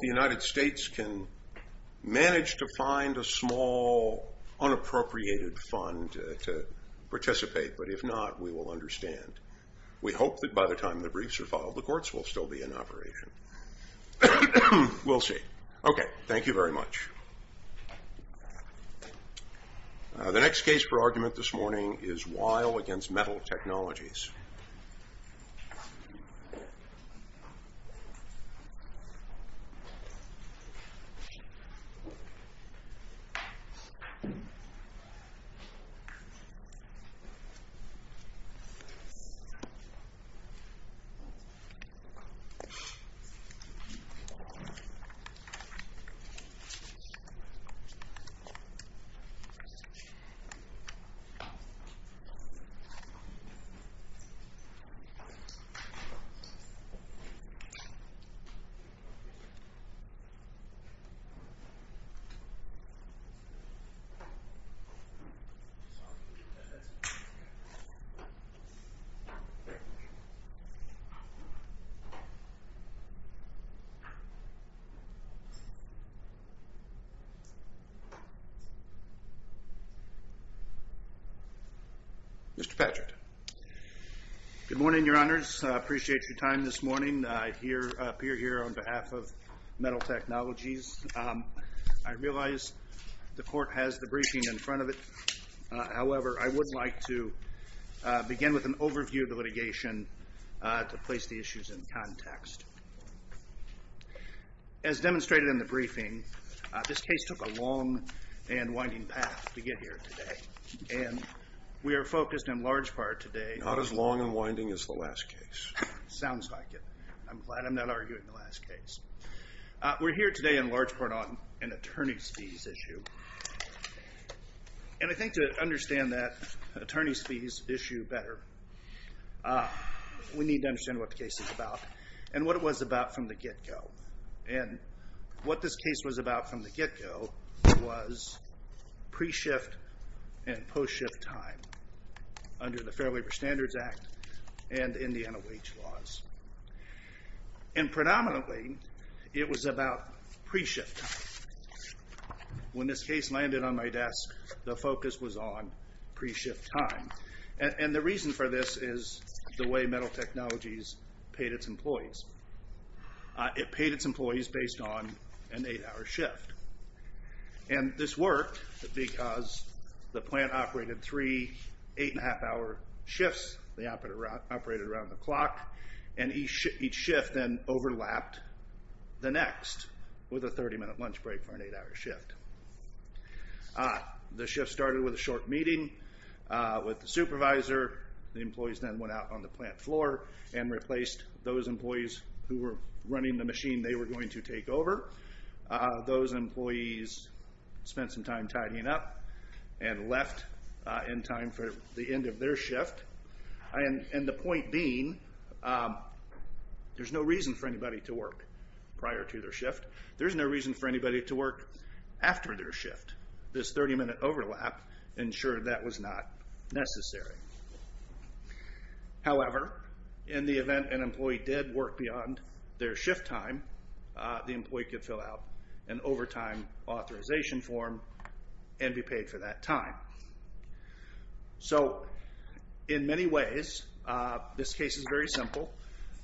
The United States can manage to find a small, unappropriated fund to participate, but if not, we will understand. We hope that by the time the briefs are filed, the courts will still be in operation. We'll see. Okay, thank you very much. The next case for argument this morning is Weil v. Metal Technologies. Thank you. Mr. Patrick. Good morning, Your Honors. I appreciate your time this morning. I appear here on behalf of Metal Technologies. I realize the court has the briefing in front of it. However, I would like to begin with an overview of the litigation to place the issues in context. As demonstrated in the briefing, this case took a long and winding path to get here today. And we are focused in large part today on Not as long and winding as the last case. Sounds like it. I'm glad I'm not arguing the last case. We're here today in large part on an attorney's fees issue. And I think to understand that attorney's fees issue better, we need to understand what the case is about. And what it was about from the get-go. And what this case was about from the get-go was pre-shift and post-shift time. Under the Fair Labor Standards Act and in the NOH laws. And predominantly, it was about pre-shift time. When this case landed on my desk, the focus was on pre-shift time. And the reason for this is the way metal technologies paid its employees. It paid its employees based on an eight-hour shift. And this worked because the plant operated three eight-and-a-half-hour shifts. They operated around the clock. And each shift then overlapped the next with a 30-minute lunch break for an eight-hour shift. The shift started with a short meeting with the supervisor. The employees then went out on the plant floor and replaced those employees who were running the machine they were going to take over. Those employees spent some time tidying up and left in time for the end of their shift. And the point being, there's no reason for anybody to work prior to their shift. There's no reason for anybody to work after their shift. This 30-minute overlap ensured that was not necessary. However, in the event an employee did work beyond their shift time, the employee could fill out an overtime authorization form and be paid for that time. So in many ways, this case is very simple,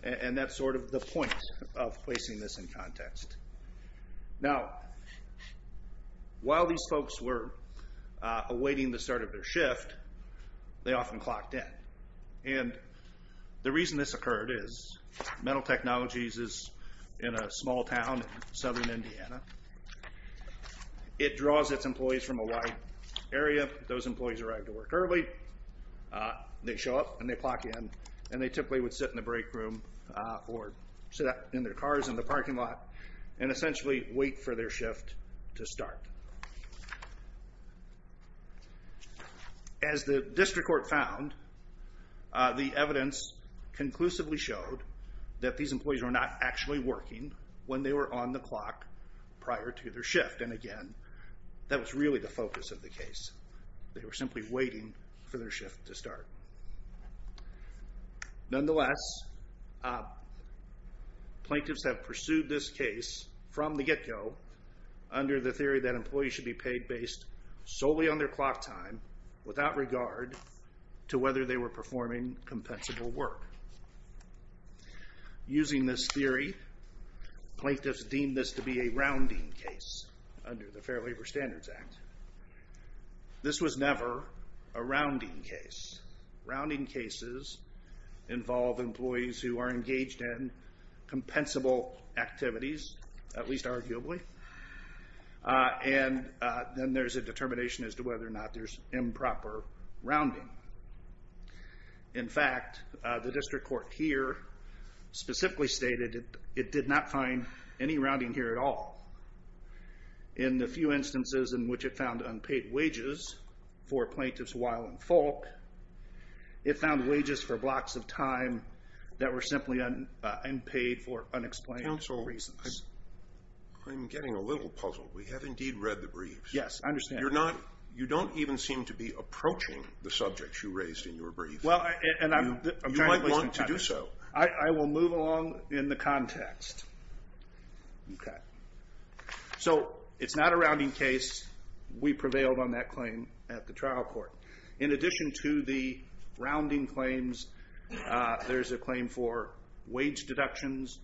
and that's sort of the point of placing this in context. Now, while these folks were awaiting the start of their shift, they often clocked in. And the reason this occurred is metal technologies is in a small town in southern Indiana. It draws its employees from a wide area. Those employees arrive to work early. They show up, and they clock in, and they typically would sit in the break room or sit in their cars in the parking lot and essentially wait for their shift to start. As the district court found, the evidence conclusively showed that these employees were not actually working when they were on the clock prior to their shift. And again, that was really the focus of the case. They were simply waiting for their shift to start. Nonetheless, plaintiffs have pursued this case from the get-go under the theory that employees should be paid based solely on their clock time without regard to whether they were performing compensable work. Using this theory, plaintiffs deemed this to be a rounding case under the Fair Labor Standards Act. This was never a rounding case. Rounding cases involve employees who are engaged in compensable activities, at least arguably. And then there's a determination as to whether or not there's improper rounding. In fact, the district court here specifically stated it did not find any rounding here at all. In the few instances in which it found unpaid wages for plaintiffs while in fault, it found wages for blocks of time that were simply unpaid for unexplained reasons. Counsel, I'm getting a little puzzled. We have indeed read the briefs. Yes, I understand. You don't even seem to be approaching the subjects you raised in your brief. You might want to do so. I will move along in the context. Okay. So it's not a rounding case. We prevailed on that claim at the trial court. In addition to the rounding claims, there's a claim for wage deductions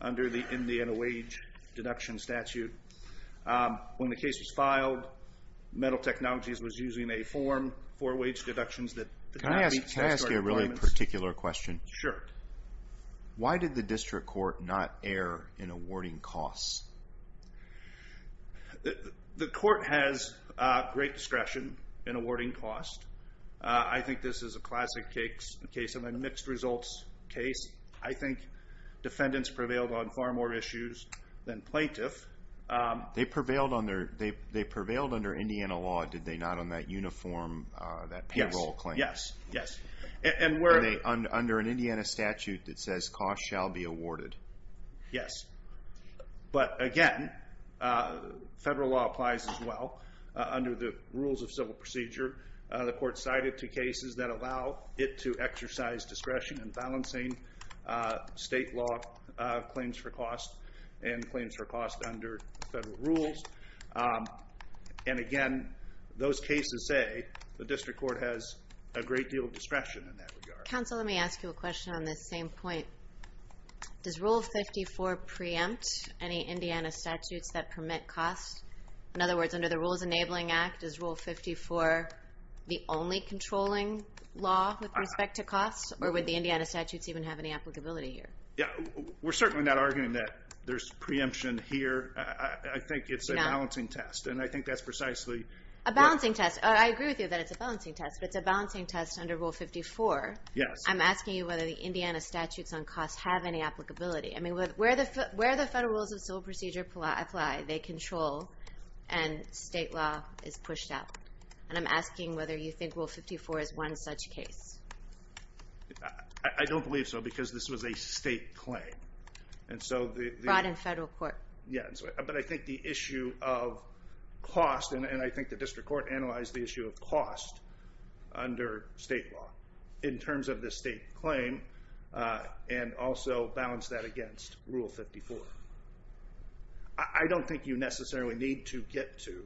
under the Indiana Wage Deduction Statute. When the case was filed, Metal Technologies was using a form for wage deductions. Can I ask you a really particular question? Sure. Why did the district court not err in awarding costs? The court has great discretion in awarding costs. I think this is a classic case of a mixed results case. I think defendants prevailed on far more issues than plaintiffs. They prevailed under Indiana law, did they not, on that uniform, that payroll claim? Yes, yes. Under an Indiana statute that says costs shall be awarded. Yes. But, again, federal law applies as well. Under the rules of civil procedure, the court cited two cases that allow it to exercise discretion in balancing state law claims for costs and claims for costs under federal rules. And, again, those cases say the district court has a great deal of discretion in that regard. Counsel, let me ask you a question on this same point. Does Rule 54 preempt any Indiana statutes that permit costs? In other words, under the Rules Enabling Act, is Rule 54 the only controlling law with respect to costs? Or would the Indiana statutes even have any applicability here? We're certainly not arguing that there's preemption here. I think it's a balancing test, and I think that's precisely... A balancing test. I agree with you that it's a balancing test, but it's a balancing test under Rule 54. Yes. I'm asking you whether the Indiana statutes on costs have any applicability. Where the federal rules of civil procedure apply, they control, and state law is pushed out. And I'm asking whether you think Rule 54 is one such case. I don't believe so, because this was a state claim. Brought in federal court. Yeah, but I think the issue of cost, and I think the district court analyzed the issue of cost under state law. In terms of the state claim, and also balance that against Rule 54. I don't think you necessarily need to get to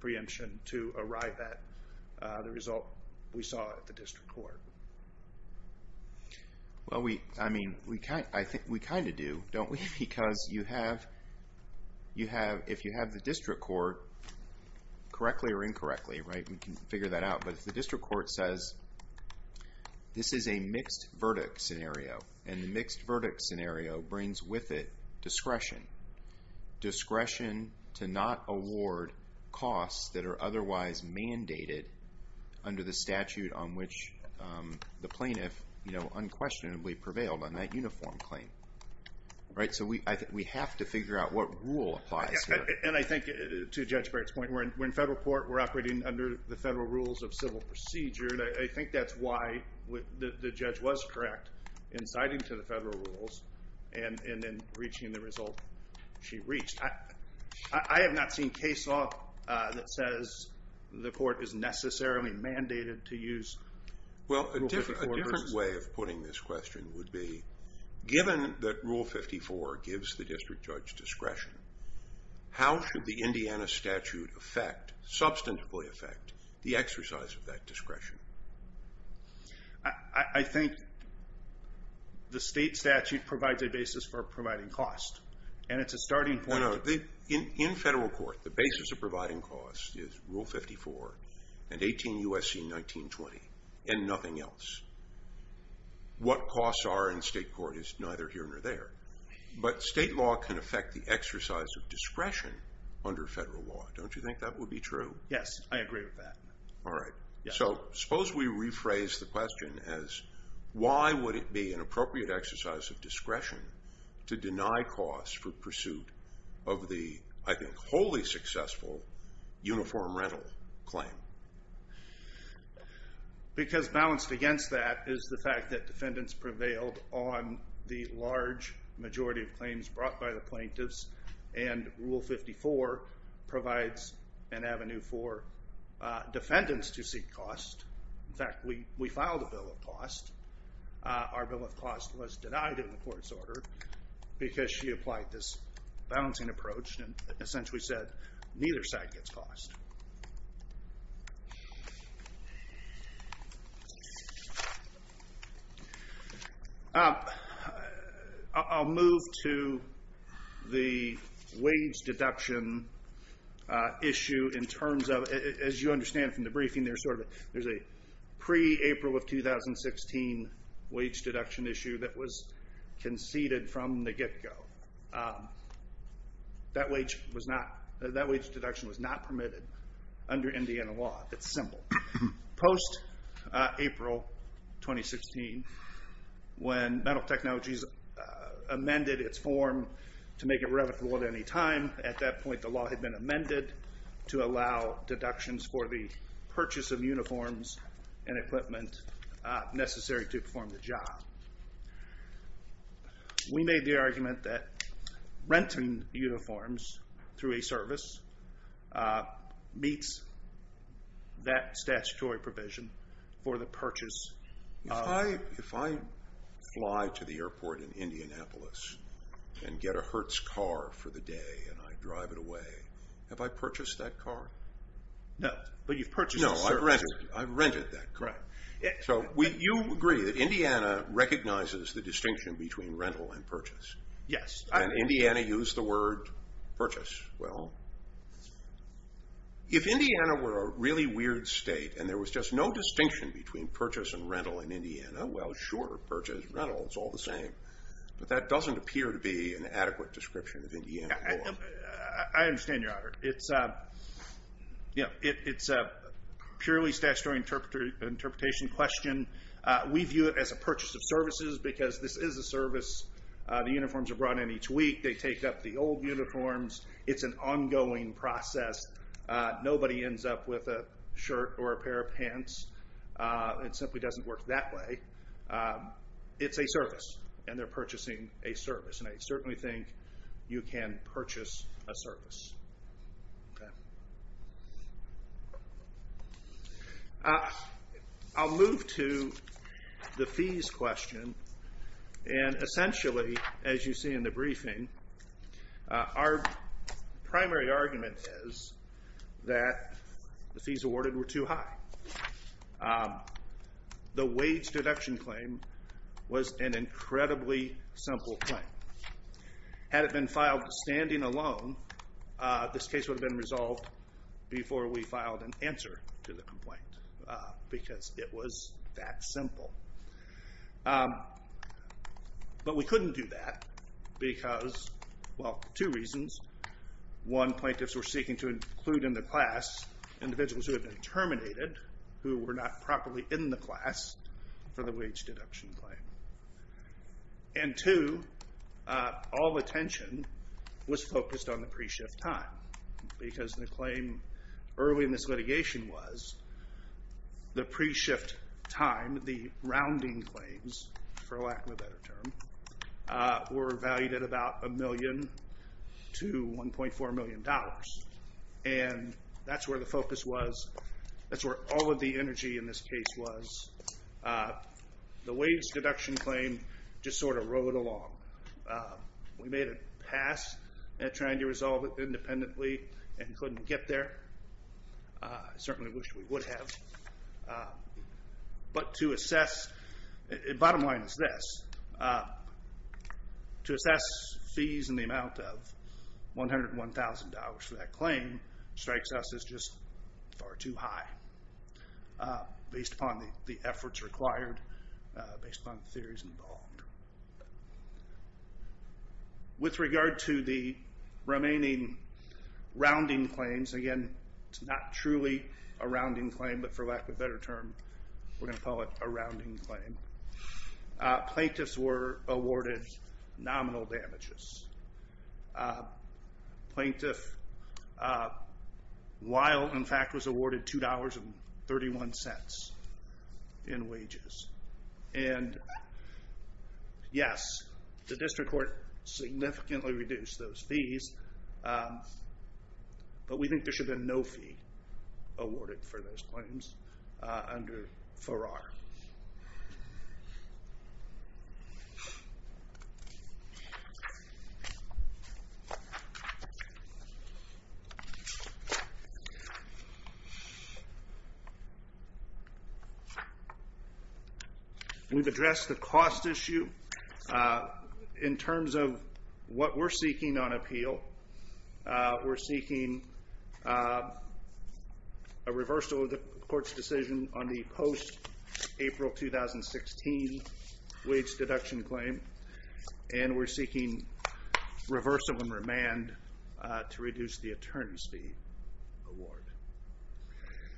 preemption to arrive at the result we saw at the district court. Well, we kind of do, don't we? Because if you have the district court, correctly or incorrectly, we can figure that out. But if the district court says, this is a mixed verdict scenario, and the mixed verdict scenario brings with it discretion. Discretion to not award costs that are otherwise mandated under the statute on which the plaintiff unquestionably prevailed on that uniform claim. So we have to figure out what rule applies here. And I think, to Judge Barrett's point, when federal court were operating under the federal rules of civil procedure, I think that's why the judge was correct in citing to the federal rules, and then reaching the result she reached. I have not seen case law that says the court is necessarily mandated to use Rule 54. Well, a different way of putting this question would be, given that Rule 54 gives the district judge discretion, how should the Indiana statute substantively affect the exercise of that discretion? I think the state statute provides a basis for providing costs, and it's a starting point. No, no. In federal court, the basis of providing costs is Rule 54 and 18 U.S.C. 1920, and nothing else. What costs are in state court is neither here nor there. But state law can affect the exercise of discretion under federal law. Don't you think that would be true? Yes, I agree with that. All right. So suppose we rephrase the question as, why would it be an appropriate exercise of discretion to deny costs for pursuit of the, I think, wholly successful uniform rental claim? Because balanced against that is the fact that defendants prevailed on the large majority of claims brought by the plaintiffs, and Rule 54 provides an avenue for defendants to seek costs. In fact, we filed a bill of costs. Our bill of costs was denied in the court's order because she applied this balancing approach and essentially said neither side gets cost. I'll move to the wage deduction issue in terms of, as you understand from the briefing, there's a pre-April of 2016 wage deduction issue that was conceded from the get-go. That wage deduction was not permitted under Indiana law. It's simple. Post-April 2016, when Metal Technologies amended its form to make it revocable at any time, at that point the law had been amended to allow deductions for the purchase of uniforms and equipment necessary to perform the job. We made the argument that renting uniforms through a service meets that statutory provision for the purchase. If I fly to the airport in Indianapolis and get a Hertz car for the day and I drive it away, have I purchased that car? No, but you've purchased the service. No, I've rented that car. You agree that Indiana recognizes the distinction between rental and purchase. Yes. And Indiana used the word purchase. Well, if Indiana were a really weird state and there was just no distinction between purchase and rental in Indiana, well, sure, purchase, rental, it's all the same. But that doesn't appear to be an adequate description of Indiana law. I understand, Your Honor. It's a purely statutory interpretation question. We view it as a purchase of services because this is a service. The uniforms are brought in each week. They take up the old uniforms. It's an ongoing process. Nobody ends up with a shirt or a pair of pants. It simply doesn't work that way. It's a service, and they're purchasing a service. And I certainly think you can purchase a service. I'll move to the fees question. And essentially, as you see in the briefing, our primary argument is that the fees awarded were too high. The wage deduction claim was an incredibly simple claim. Had it been filed standing alone, this case would have been resolved before we filed an answer to the complaint because it was that simple. But we couldn't do that because, well, two reasons. One, plaintiffs were seeking to include in the class individuals who had been terminated who were not properly in the class for the wage deduction claim. And two, all the attention was focused on the pre-shift time because the claim early in this litigation was the pre-shift time, the rounding claims, for lack of a better term, were valued at about a million to $1.4 million. And that's where the focus was. That's where all of the energy in this case was. The wage deduction claim just sort of rode along. We made a pass at trying to resolve it independently and couldn't get there. Certainly wish we would have. But to assess, the bottom line is this. To assess fees in the amount of $101,000 for that claim strikes us as just far too high. Based upon the efforts required, based upon the theories involved. With regard to the remaining rounding claims, again, it's not truly a rounding claim. But for lack of a better term, we're going to call it a rounding claim. Plaintiffs were awarded nominal damages. Plaintiff Weil, in fact, was awarded $2.31 in wages. And yes, the district court significantly reduced those fees. But we think there should have been no fee awarded for those claims under Farrar. We've addressed the cost issue in terms of what we're seeking on appeal. We're seeking a reversal of the court's decision on the post-April 2016 wage deduction claim. And we're seeking reversal and remand to reduce the attorney's fee award.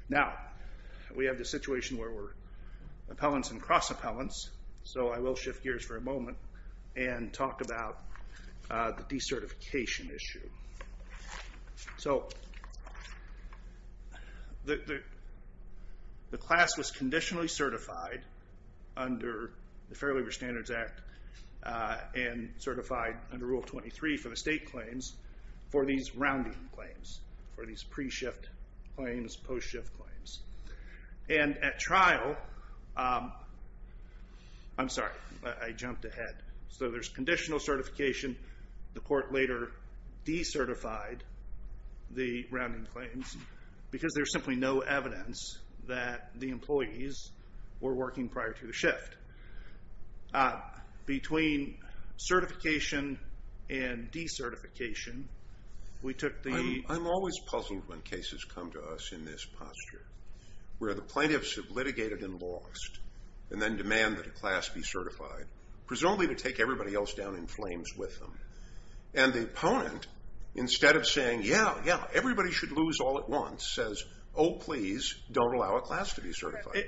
Now, we have the situation where we're appellants and cross-appellants. So I will shift gears for a moment and talk about the decertification issue. So the class was conditionally certified under the Fair Labor Standards Act and certified under Rule 23 for the state claims for these rounding claims, for these pre-shift claims, post-shift claims. And at trial, I'm sorry, I jumped ahead. So there's conditional certification. The court later decertified the rounding claims because there's simply no evidence that the employees were working prior to the shift. Between certification and decertification, we took the I'm always puzzled when cases come to us in this posture, where the plaintiffs have litigated and lost and then demand that a class be certified, presumably to take everybody else down in flames with them. And the opponent, instead of saying, yeah, yeah, everybody should lose all at once, says, oh, please, don't allow a class to be certified.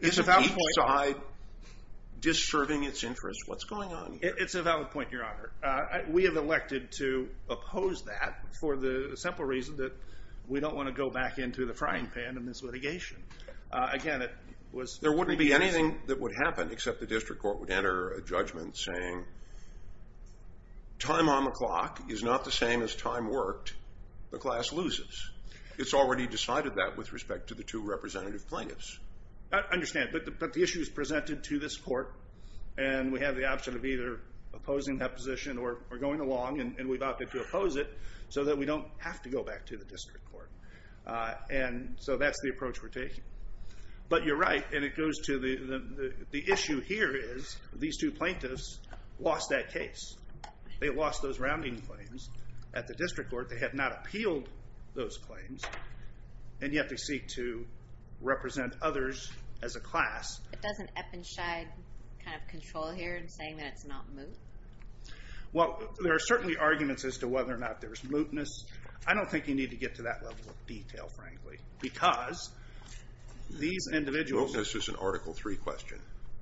Isn't each side disserving its interest? What's going on here? It's a valid point, Your Honor. We have elected to oppose that for the simple reason that we don't want to go back into the frying pan in this litigation. Again, it was There wouldn't be anything that would happen except the district court would enter a judgment saying, time on the clock is not the same as time worked, the class loses. It's already decided that with respect to the two representative plaintiffs. I understand. But the issue is presented to this court. And we have the option of either opposing that position or going along. And we've opted to oppose it so that we don't have to go back to the district court. And so that's the approach we're taking. But you're right. And it goes to the issue here is these two plaintiffs lost that case. They lost those rounding claims at the district court. They had not appealed those claims. And yet they seek to represent others as a class. It doesn't Eppenscheid kind of control here in saying that it's not moot. Well, there are certainly arguments as to whether or not there is mootness. I don't think you need to get to that level of detail, frankly, because these individuals. Mootness is an Article 3 question.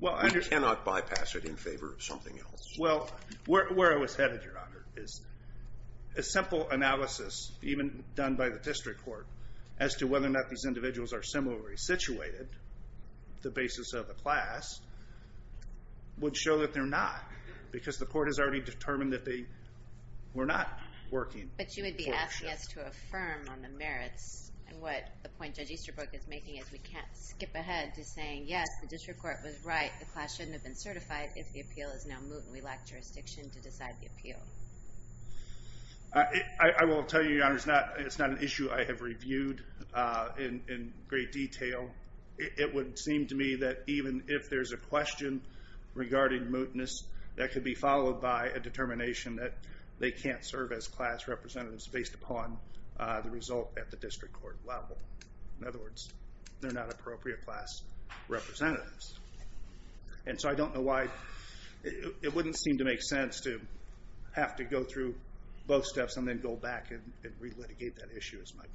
I cannot bypass it in favor of something else. Well, where I was headed, Your Honor, is a simple analysis, even done by the district court, as to whether or not these individuals are similarly situated, the basis of the class, would show that they're not because the court has already determined that they were not working. But you would be asking us to affirm on the merits and what the point Judge Easterbrook is making is we can't skip ahead to saying, yes, the district court was right. The class shouldn't have been certified if the appeal is now moot and we lack jurisdiction to decide the appeal. I will tell you, Your Honor, it's not an issue I have reviewed in great detail. It would seem to me that even if there's a question regarding mootness, that could be followed by a determination that they can't serve as class representatives based upon the result at the district court level. In other words, they're not appropriate class representatives. And so I don't know why. It wouldn't seem to make sense to have to go through both steps and then go back and re-litigate that issue, is my point.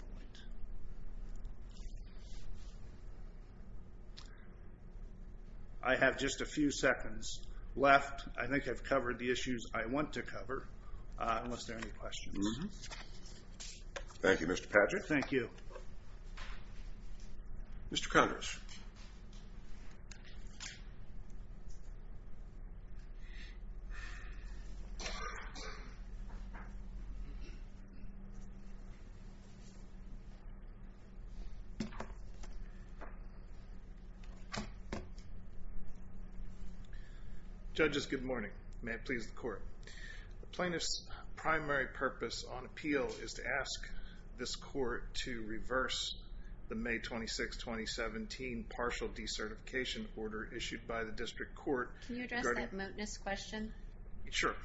I have just a few seconds left. I think I've covered the issues I want to cover, unless there are any questions. Thank you, Mr. Patrick. Thank you. Mr. Congress. Judges, good morning. May it please the Court. The plaintiff's primary purpose on appeal is to ask this court to reverse the May 26, 2017 partial decertification order issued by the district court. Can you address that mootness question? Sure.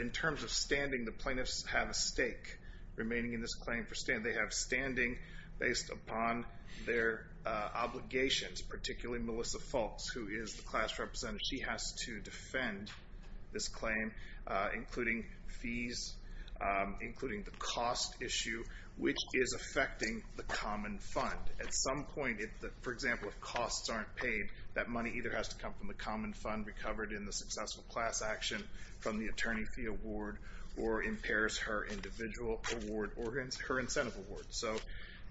In terms of standing, the plaintiffs have a stake remaining in this claim for standing. They have standing based upon their obligations, particularly Melissa Fultz, who is the class representative. She has to defend this claim, including fees, including the cost issue, which is affecting the common fund. At some point, for example, if costs aren't paid, that money either has to come from the common fund, recovered in the successful class action from the attorney fee award, or impairs her individual award organs, her incentive award. So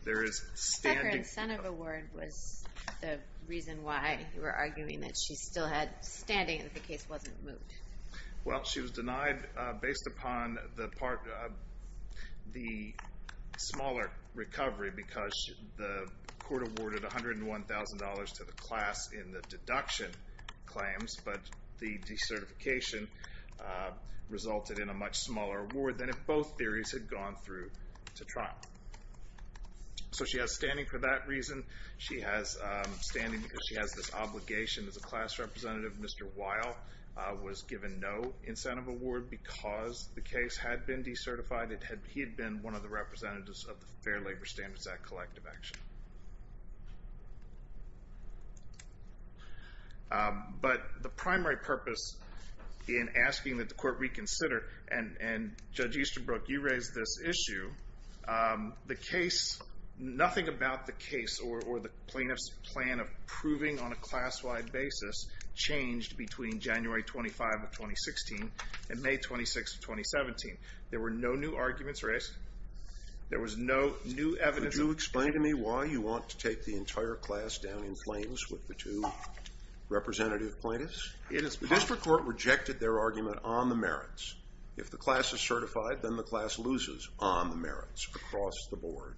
there is standing. The incentive award was the reason why you were arguing that she still had standing if the case wasn't moved. Well, she was denied based upon the smaller recovery because the court awarded $101,000 to the class in the deduction claims, but the decertification resulted in a much smaller award than if both theories had gone through to trial. So she has standing for that reason. She has standing because she has this obligation as a class representative. Mr. Weil was given no incentive award because the case had been decertified. He had been one of the representatives of the Fair Labor Standards Act collective action. But the primary purpose in asking that the court reconsider, and Judge Easterbrook, you raised this issue, the case, nothing about the case or the plaintiff's plan of proving on a class-wide basis changed between January 25 of 2016 and May 26 of 2017. There were no new arguments raised. There was no new evidence. Could you explain to me why you want to take the entire class down in flames with the two representative plaintiffs? It is possible. The district court rejected their argument on the merits. If the class is certified, then the class loses on the merits across the board.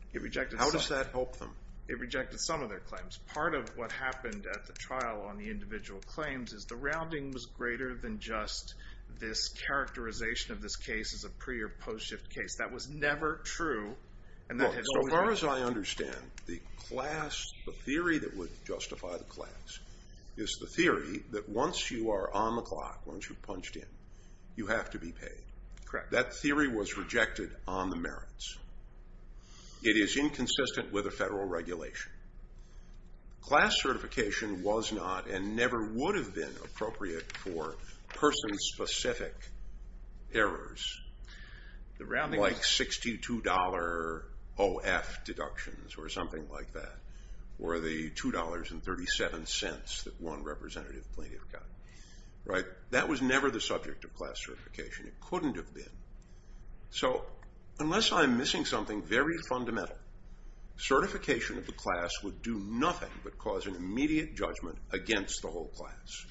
How does that help them? It rejected some of their claims. Part of what happened at the trial on the individual claims is the rounding was greater than just this characterization of this case as a pre- or post-shift case. That was never true. As far as I understand, the theory that would justify the class is the theory that once you are on the clock, once you've punched in, you have to be paid. That theory was rejected on the merits. It is inconsistent with the federal regulation. Class certification was not and never would have been appropriate for person-specific errors like $62 OF deductions or something like that or the $2.37 that one representative plaintiff got. That was never the subject of class certification. It couldn't have been. Unless I'm missing something very fundamental, certification of the class would do nothing but cause an immediate judgment against the whole class.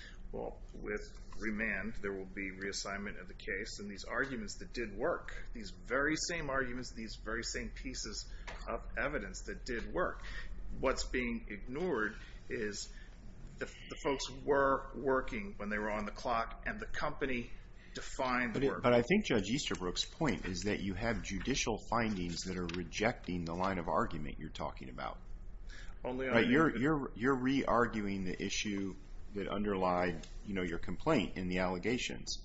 With remand, there will be reassignment of the case and these arguments that did work, these very same arguments, these very same pieces of evidence that did work. What's being ignored is the folks were working when they were on the clock and the company defined the work. But I think Judge Easterbrook's point is that you have judicial findings that are rejecting the line of argument you're talking about. You're re-arguing the issue that underlied your complaint in the allegations.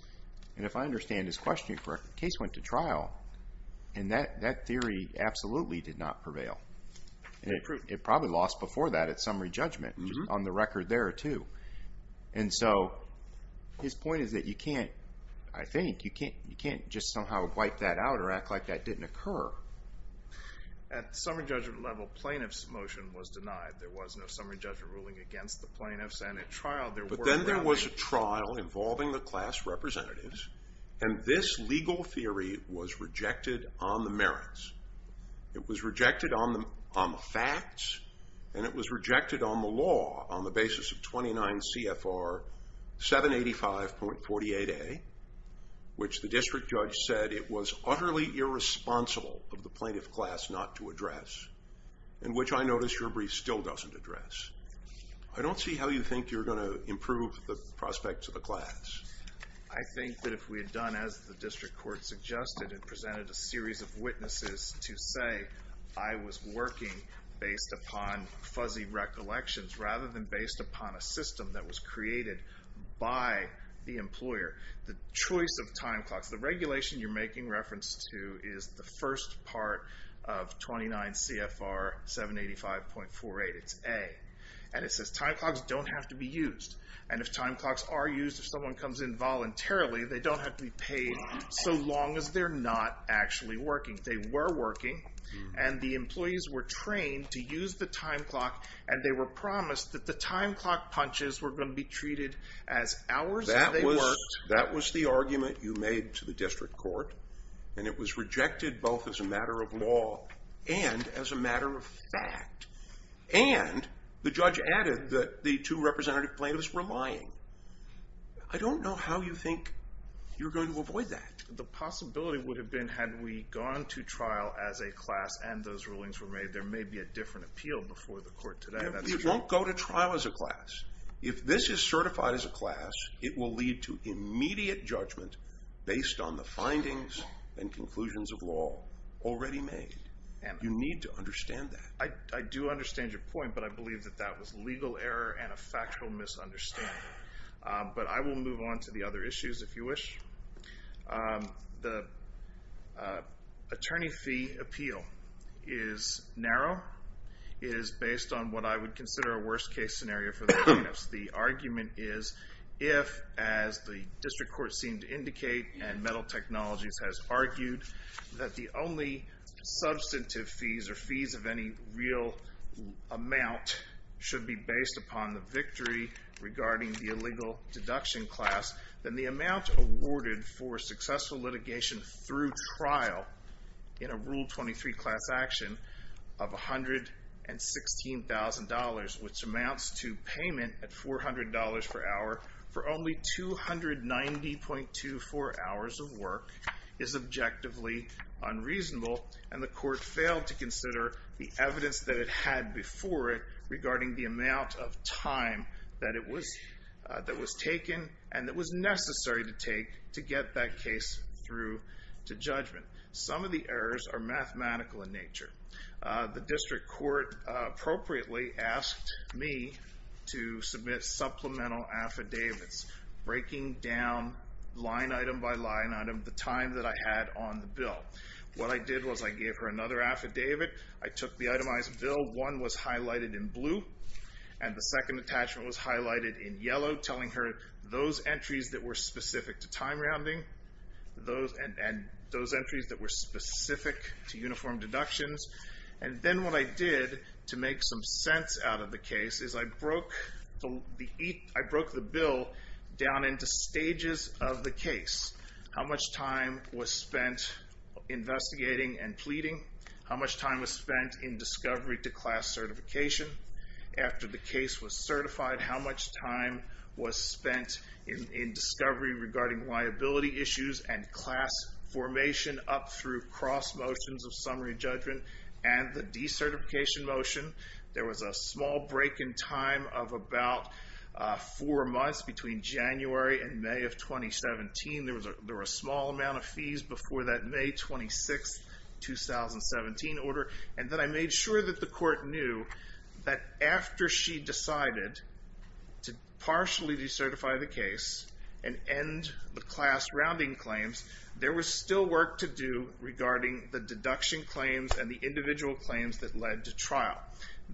If I understand his question correctly, the case went to trial and that theory absolutely did not prevail. It probably lost before that at summary judgment, which is on the record there too. And so his point is that you can't, I think, you can't just somehow wipe that out or act like that didn't occur. At the summary judgment level, plaintiff's motion was denied. There was no summary judgment ruling against the plaintiffs, and at trial there were no rulings. But then there was a trial involving the class representatives, and this legal theory was rejected on the merits. It was rejected on the facts, and it was rejected on the law on the basis of 29 CFR 785.48a, which the district judge said it was utterly irresponsible of the plaintiff class not to address, and which I notice your brief still doesn't address. I don't see how you think you're going to improve the prospects of the class. I think that if we had done as the district court suggested and presented a series of witnesses to say, I was working based upon fuzzy recollections rather than based upon a system that was created by the employer, the choice of time clocks, the regulation you're making reference to is the first part of 29 CFR 785.48. It's A. And it says time clocks don't have to be used. And if time clocks are used, if someone comes in voluntarily, they don't have to be paid so long as they're not actually working. They were working, and the employees were trained to use the time clock, and they were promised that the time clock punches were going to be treated as hours that they worked. That was the argument you made to the district court, and it was rejected both as a matter of law and as a matter of fact. And the judge added that the two representative plaintiffs were lying. I don't know how you think you're going to avoid that. The possibility would have been had we gone to trial as a class and those rulings were made, there may be a different appeal before the court today. We won't go to trial as a class. If this is certified as a class, it will lead to immediate judgment based on the findings and conclusions of law already made. You need to understand that. I do understand your point, but I believe that that was legal error and a factual misunderstanding. But I will move on to the other issues if you wish. The attorney fee appeal is narrow. It is based on what I would consider a worst-case scenario for the plaintiffs. The argument is if, as the district court seemed to indicate and Metal Technologies has argued, that the only substantive fees or fees of any real amount should be based upon the victory regarding the illegal deduction class, then the amount awarded for successful litigation through trial in a Rule 23 class action of $116,000, which amounts to payment at $400 per hour for only 290.24 hours of work, is objectively unreasonable, and the court failed to consider the evidence that it had before it regarding the amount of time that was taken and that was necessary to take to get that case through to judgment. Some of the errors are mathematical in nature. The district court appropriately asked me to submit supplemental affidavits breaking down line item by line item the time that I had on the bill. What I did was I gave her another affidavit. I took the itemized bill. One was highlighted in blue, and the second attachment was highlighted in yellow, telling her those entries that were specific to time rounding and those entries that were specific to uniform deductions. And then what I did to make some sense out of the case is I broke the bill down into stages of the case. How much time was spent investigating and pleading? How much time was spent in discovery to class certification? After the case was certified, how much time was spent in discovery regarding liability issues and class formation up through cross motions of summary judgment and the decertification motion? There was a small break in time of about four months between January and May of 2017. There were a small amount of fees before that May 26, 2017, order. And then I made sure that the court knew that after she decided to partially decertify the case and end the class rounding claims, there was still work to do regarding the deduction claims and the individual claims that led to trial.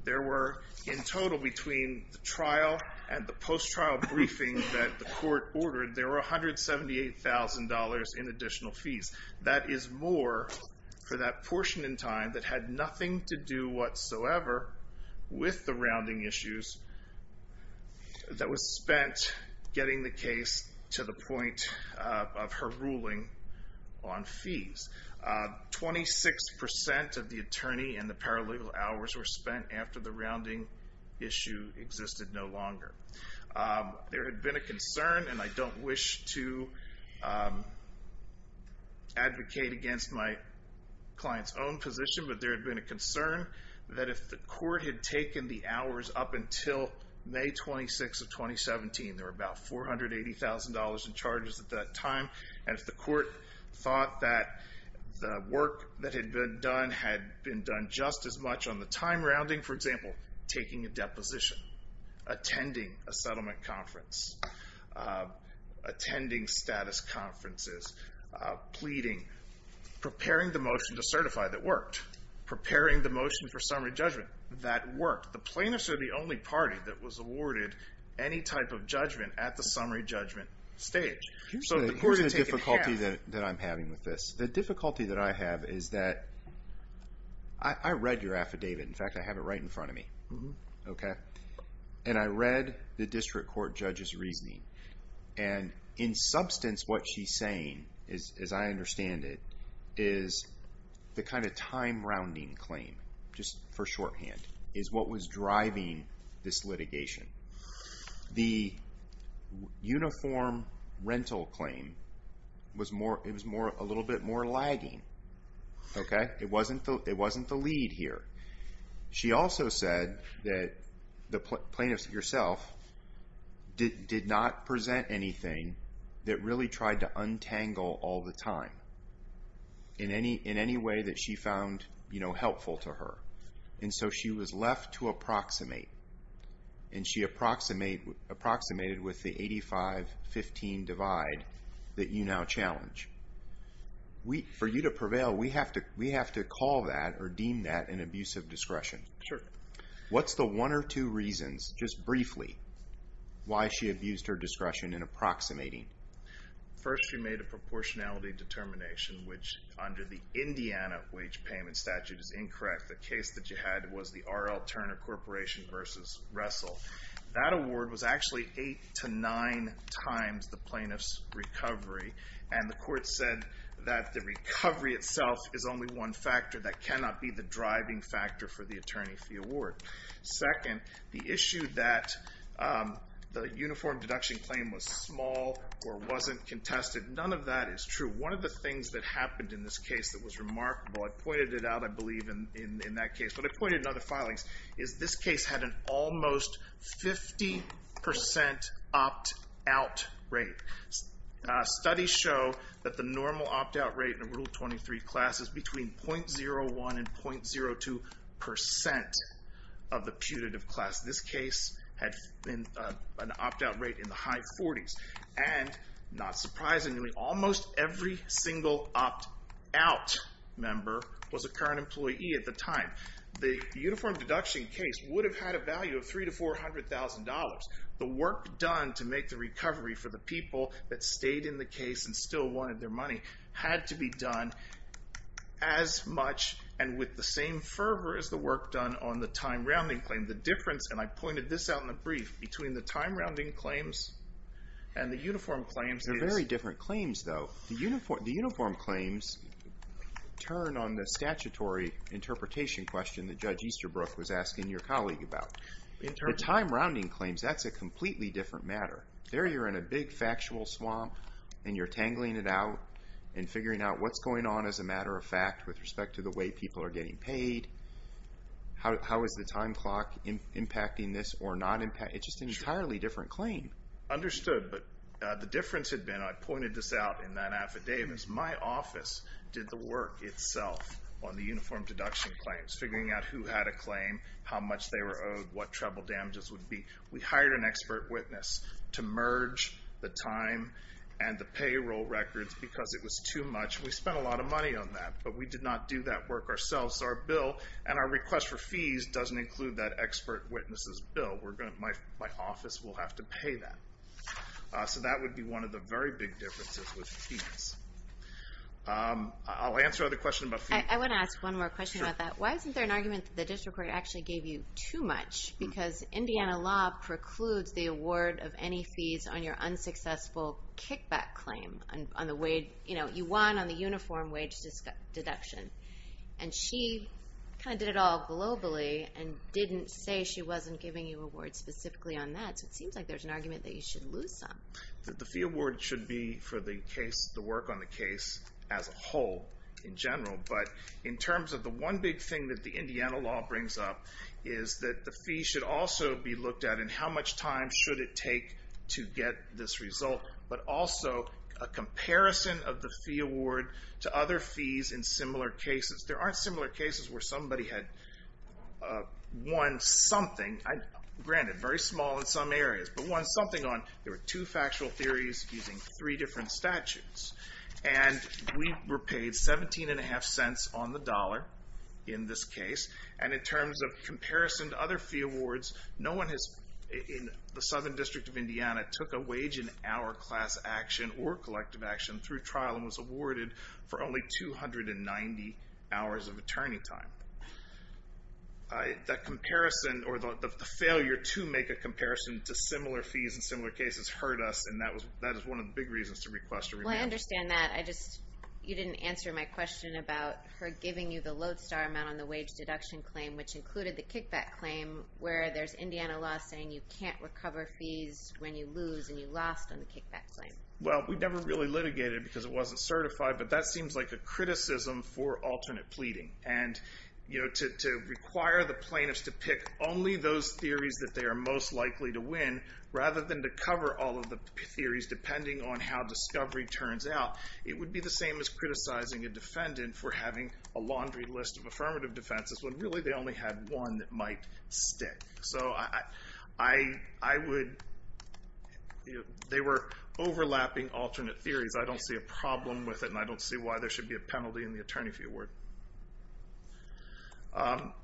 There were, in total, between the trial and the post-trial briefing that the court ordered, there were $178,000 in additional fees. That is more for that portion in time that had nothing to do whatsoever with the rounding issues that was spent getting the case to the point of her ruling on fees. 26% of the attorney and the paralegal hours were spent after the rounding issue existed no longer. There had been a concern, and I don't wish to advocate against my client's own position, but there had been a concern that if the court had taken the hours up until May 26 of 2017, there were about $480,000 in charges at that time, and if the court thought that the work that had been done had been done just as much on the time rounding, for example, taking a deposition, attending a settlement conference, attending status conferences, pleading, preparing the motion to certify that worked, preparing the motion for summary judgment that worked, the plaintiffs are the only party that was awarded any type of judgment at the summary judgment stage. Here's the difficulty that I'm having with this. The difficulty that I have is that I read your affidavit. In fact, I have it right in front of me, okay? And I read the district court judge's reasoning, and in substance what she's saying, as I understand it, is the kind of time rounding claim, just for shorthand, is what was driving this litigation. The uniform rental claim was a little bit more lagging, okay? It wasn't the lead here. She also said that the plaintiff herself did not present anything that really tried to untangle all the time in any way that she found helpful to her, and so she was left to approximate, and she approximated with the 85-15 divide that you now challenge. For you to prevail, we have to call that or deem that an abuse of discretion. Sure. What's the one or two reasons, just briefly, why she abused her discretion in approximating? First, she made a proportionality determination, which under the Indiana wage payment statute is incorrect. The case that you had was the R.L. Turner Corporation versus Russell. That award was actually eight to nine times the plaintiff's recovery, and the court said that the recovery itself is only one factor that cannot be the driving factor for the attorney fee award. Second, the issue that the uniform deduction claim was small or wasn't contested, none of that is true. One of the things that happened in this case that was remarkable, I pointed it out, I believe, in that case, but I pointed it in other filings, is this case had an almost 50% opt-out rate. Studies show that the normal opt-out rate in a Rule 23 class is between 0.01% and 0.02% of the putative class. This case had an opt-out rate in the high 40s, and not surprisingly, almost every single opt-out member was a current employee at the time. The uniform deduction case would have had a value of $300,000 to $400,000. The work done to make the recovery for the people that stayed in the case and still wanted their money had to be done as much and with the same fervor as the work done on the time rounding claim. The difference, and I pointed this out in the brief, between the time rounding claims and the uniform claims is... They're very different claims, though. The uniform claims turn on the statutory interpretation question that Judge Easterbrook was asking your colleague about. The time rounding claims, that's a completely different matter. There you're in a big factual swamp, and you're tangling it out and figuring out what's going on as a matter of fact with respect to the way people are getting paid, how is the time clock impacting this or not impacting... It's just an entirely different claim. Understood, but the difference had been, I pointed this out in that affidavit, my office did the work itself on the uniform deduction claims, figuring out who had a claim, how much they were owed, what treble damages would be. We hired an expert witness to merge the time and the payroll records because it was too much, and we spent a lot of money on that, but we did not do that work ourselves. Our bill and our request for fees doesn't include that expert witness's bill. My office will have to pay that. So that would be one of the very big differences with fees. I'll answer other questions about fees. I want to ask one more question about that. Why isn't there an argument that the district court actually gave you too much? Because Indiana law precludes the award of any fees on your unsuccessful kickback claim. You won on the uniform wage deduction, and she kind of did it all globally and didn't say she wasn't giving you awards specifically on that, so it seems like there's an argument that you should lose some. The fee award should be for the work on the case as a whole in general, but in terms of the one big thing that the Indiana law brings up is that the fee should also be looked at in how much time should it take to get this result, but also a comparison of the fee award to other fees in similar cases. There aren't similar cases where somebody had won something. Granted, very small in some areas, but won something on. There were two factual theories using three different statutes, and we were paid 17.5 cents on the dollar in this case, and in terms of comparison to other fee awards, no one in the Southern District of Indiana took a wage in our class action or collective action through trial and was awarded for only 290 hours of attorney time. That comparison, or the failure to make a comparison to similar fees in similar cases hurt us, and that is one of the big reasons to request a remand. Well, I understand that. You didn't answer my question about her giving you the Lodestar amount on the wage deduction claim, which included the kickback claim, where there's Indiana law saying you can't recover fees when you lose and you lost on the kickback claim. Well, we never really litigated because it wasn't certified, but that seems like a criticism for alternate pleading, and to require the plaintiffs to pick only those theories that they are most likely to win rather than to cover all of the theories, depending on how discovery turns out, it would be the same as criticizing a defendant for having a laundry list of affirmative defenses when really they only had one that might stick. So they were overlapping alternate theories. I don't see a problem with it, and I don't see why there should be a penalty in the attorney fee award.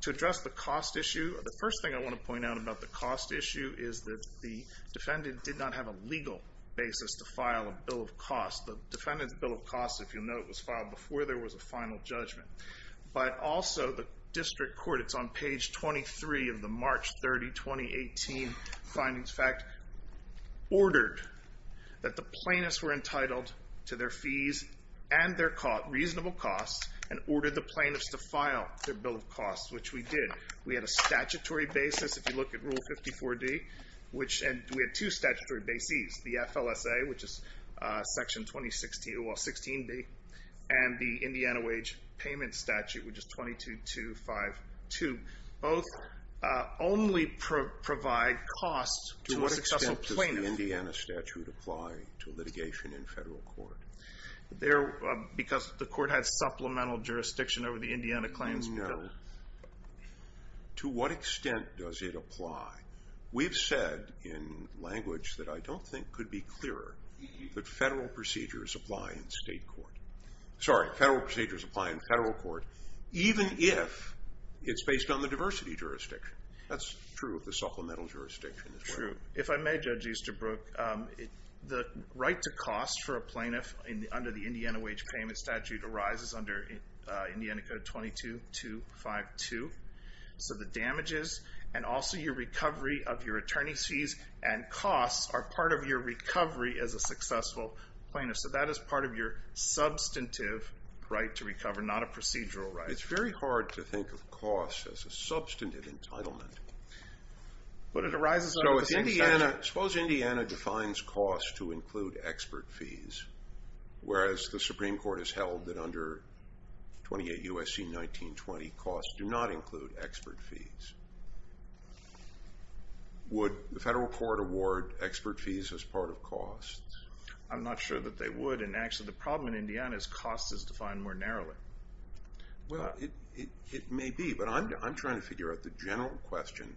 To address the cost issue, the first thing I want to point out about the cost issue is that the defendant did not have a legal basis to file a bill of cost. The defendant's bill of cost, if you'll note, was filed before there was a final judgment. But also the district court, it's on page 23 of the March 30, 2018 findings fact, ordered that the plaintiffs were entitled to their fees and their reasonable costs and ordered the plaintiffs to file their bill of cost, which we did. We had a statutory basis, if you look at Rule 54D, and we had two statutory bases, the FLSA, which is Section 16B, and the Indiana wage payment statute, which is 22252. Both only provide costs to a successful plaintiff. To what extent does the Indiana statute apply to litigation in federal court? Because the court had supplemental jurisdiction over the Indiana claims. No. To what extent does it apply? We've said in language that I don't think could be clearer that federal procedures apply in state court. Sorry, federal procedures apply in federal court, even if it's based on the diversity jurisdiction. That's true of the supplemental jurisdiction as well. If I may, Judge Easterbrook, the right to cost for a plaintiff under the Indiana wage payment statute arises under Indiana Code 22252. So the damages and also your recovery of your attorney's fees and costs are part of your recovery as a successful plaintiff. So that is part of your substantive right to recover, not a procedural right. It's very hard to think of costs as a substantive entitlement. But it arises under the same statute. Suppose Indiana defines costs to include expert fees, whereas the Supreme Court has held that under 28 U.S.C. 1920, costs do not include expert fees. Would the federal court award expert fees as part of costs? I'm not sure that they would. And, actually, the problem in Indiana is costs is defined more narrowly. Well, it may be. But I'm trying to figure out the general question,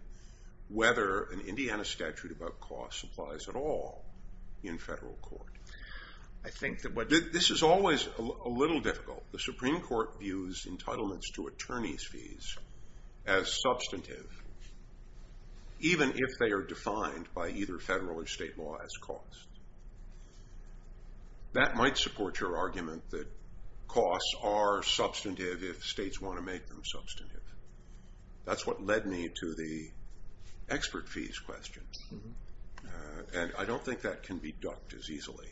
whether an Indiana statute about costs applies at all in federal court. This is always a little difficult. The Supreme Court views entitlements to attorney's fees as substantive, even if they are defined by either federal or state law as costs. That might support your argument that costs are substantive if states want to make them substantive. That's what led me to the expert fees question. And I don't think that can be ducked as easily.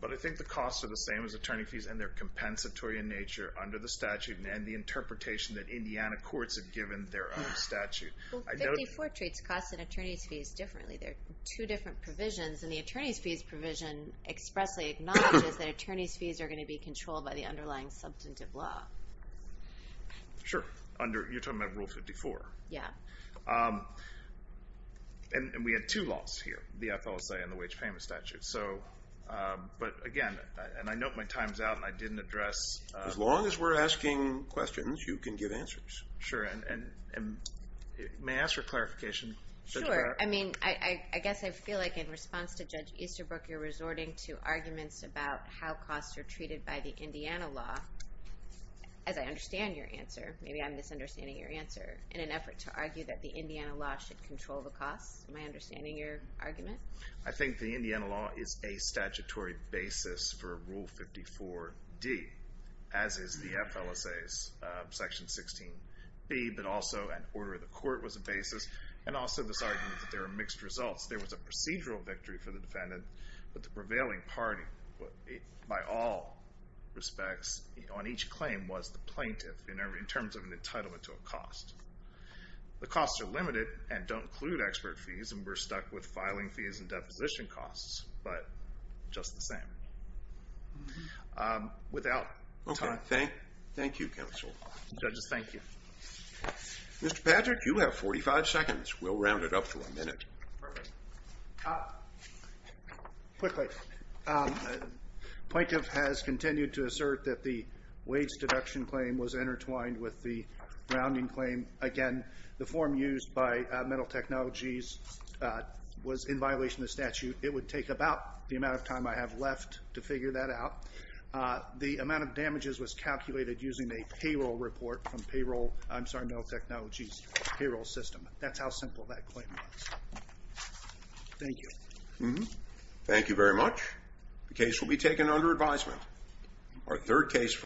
But I think the costs are the same as attorney fees, and they're compensatory in nature under the statute and the interpretation that Indiana courts have given their own statute. Well, 54 treats costs and attorney's fees differently. They're two different provisions, and the attorney's fees provision expressly acknowledges that attorney's fees are going to be controlled by the underlying substantive law. Sure. You're talking about Rule 54. Yeah. And we had two laws here, the FLSA and the wage payment statute. But again, and I note my time's out and I didn't address... As long as we're asking questions, you can give answers. Sure. And may I ask for clarification? Sure. I mean, I guess I feel like in response to Judge Easterbrook you're resorting to arguments about how costs are treated by the Indiana law. As I understand your answer, maybe I'm misunderstanding your answer, in an effort to argue that the Indiana law should control the costs. Am I understanding your argument? I think the Indiana law is a statutory basis for Rule 54D, as is the FLSA's Section 16B, but also an order of the court was a basis, and also this argument that there are mixed results. There was a procedural victory for the defendant, but the prevailing party by all respects on each claim was the plaintiff in terms of an entitlement to a cost. The costs are limited and don't include expert fees, and we're stuck with filing fees and deposition costs, but just the same. Without time. Okay. Thank you, counsel. Judges, thank you. Mr. Patrick, you have 45 seconds. We'll round it up to a minute. Perfect. Quickly. The plaintiff has continued to assert that the wage deduction claim was intertwined with the rounding claim. Again, the form used by Mental Technologies was in violation of the statute. It would take about the amount of time I have left to figure that out. The amount of damages was calculated using a payroll report from Mental Technologies' payroll system. That's how simple that claim was. Thank you. Thank you very much. The case will be taken under advisement.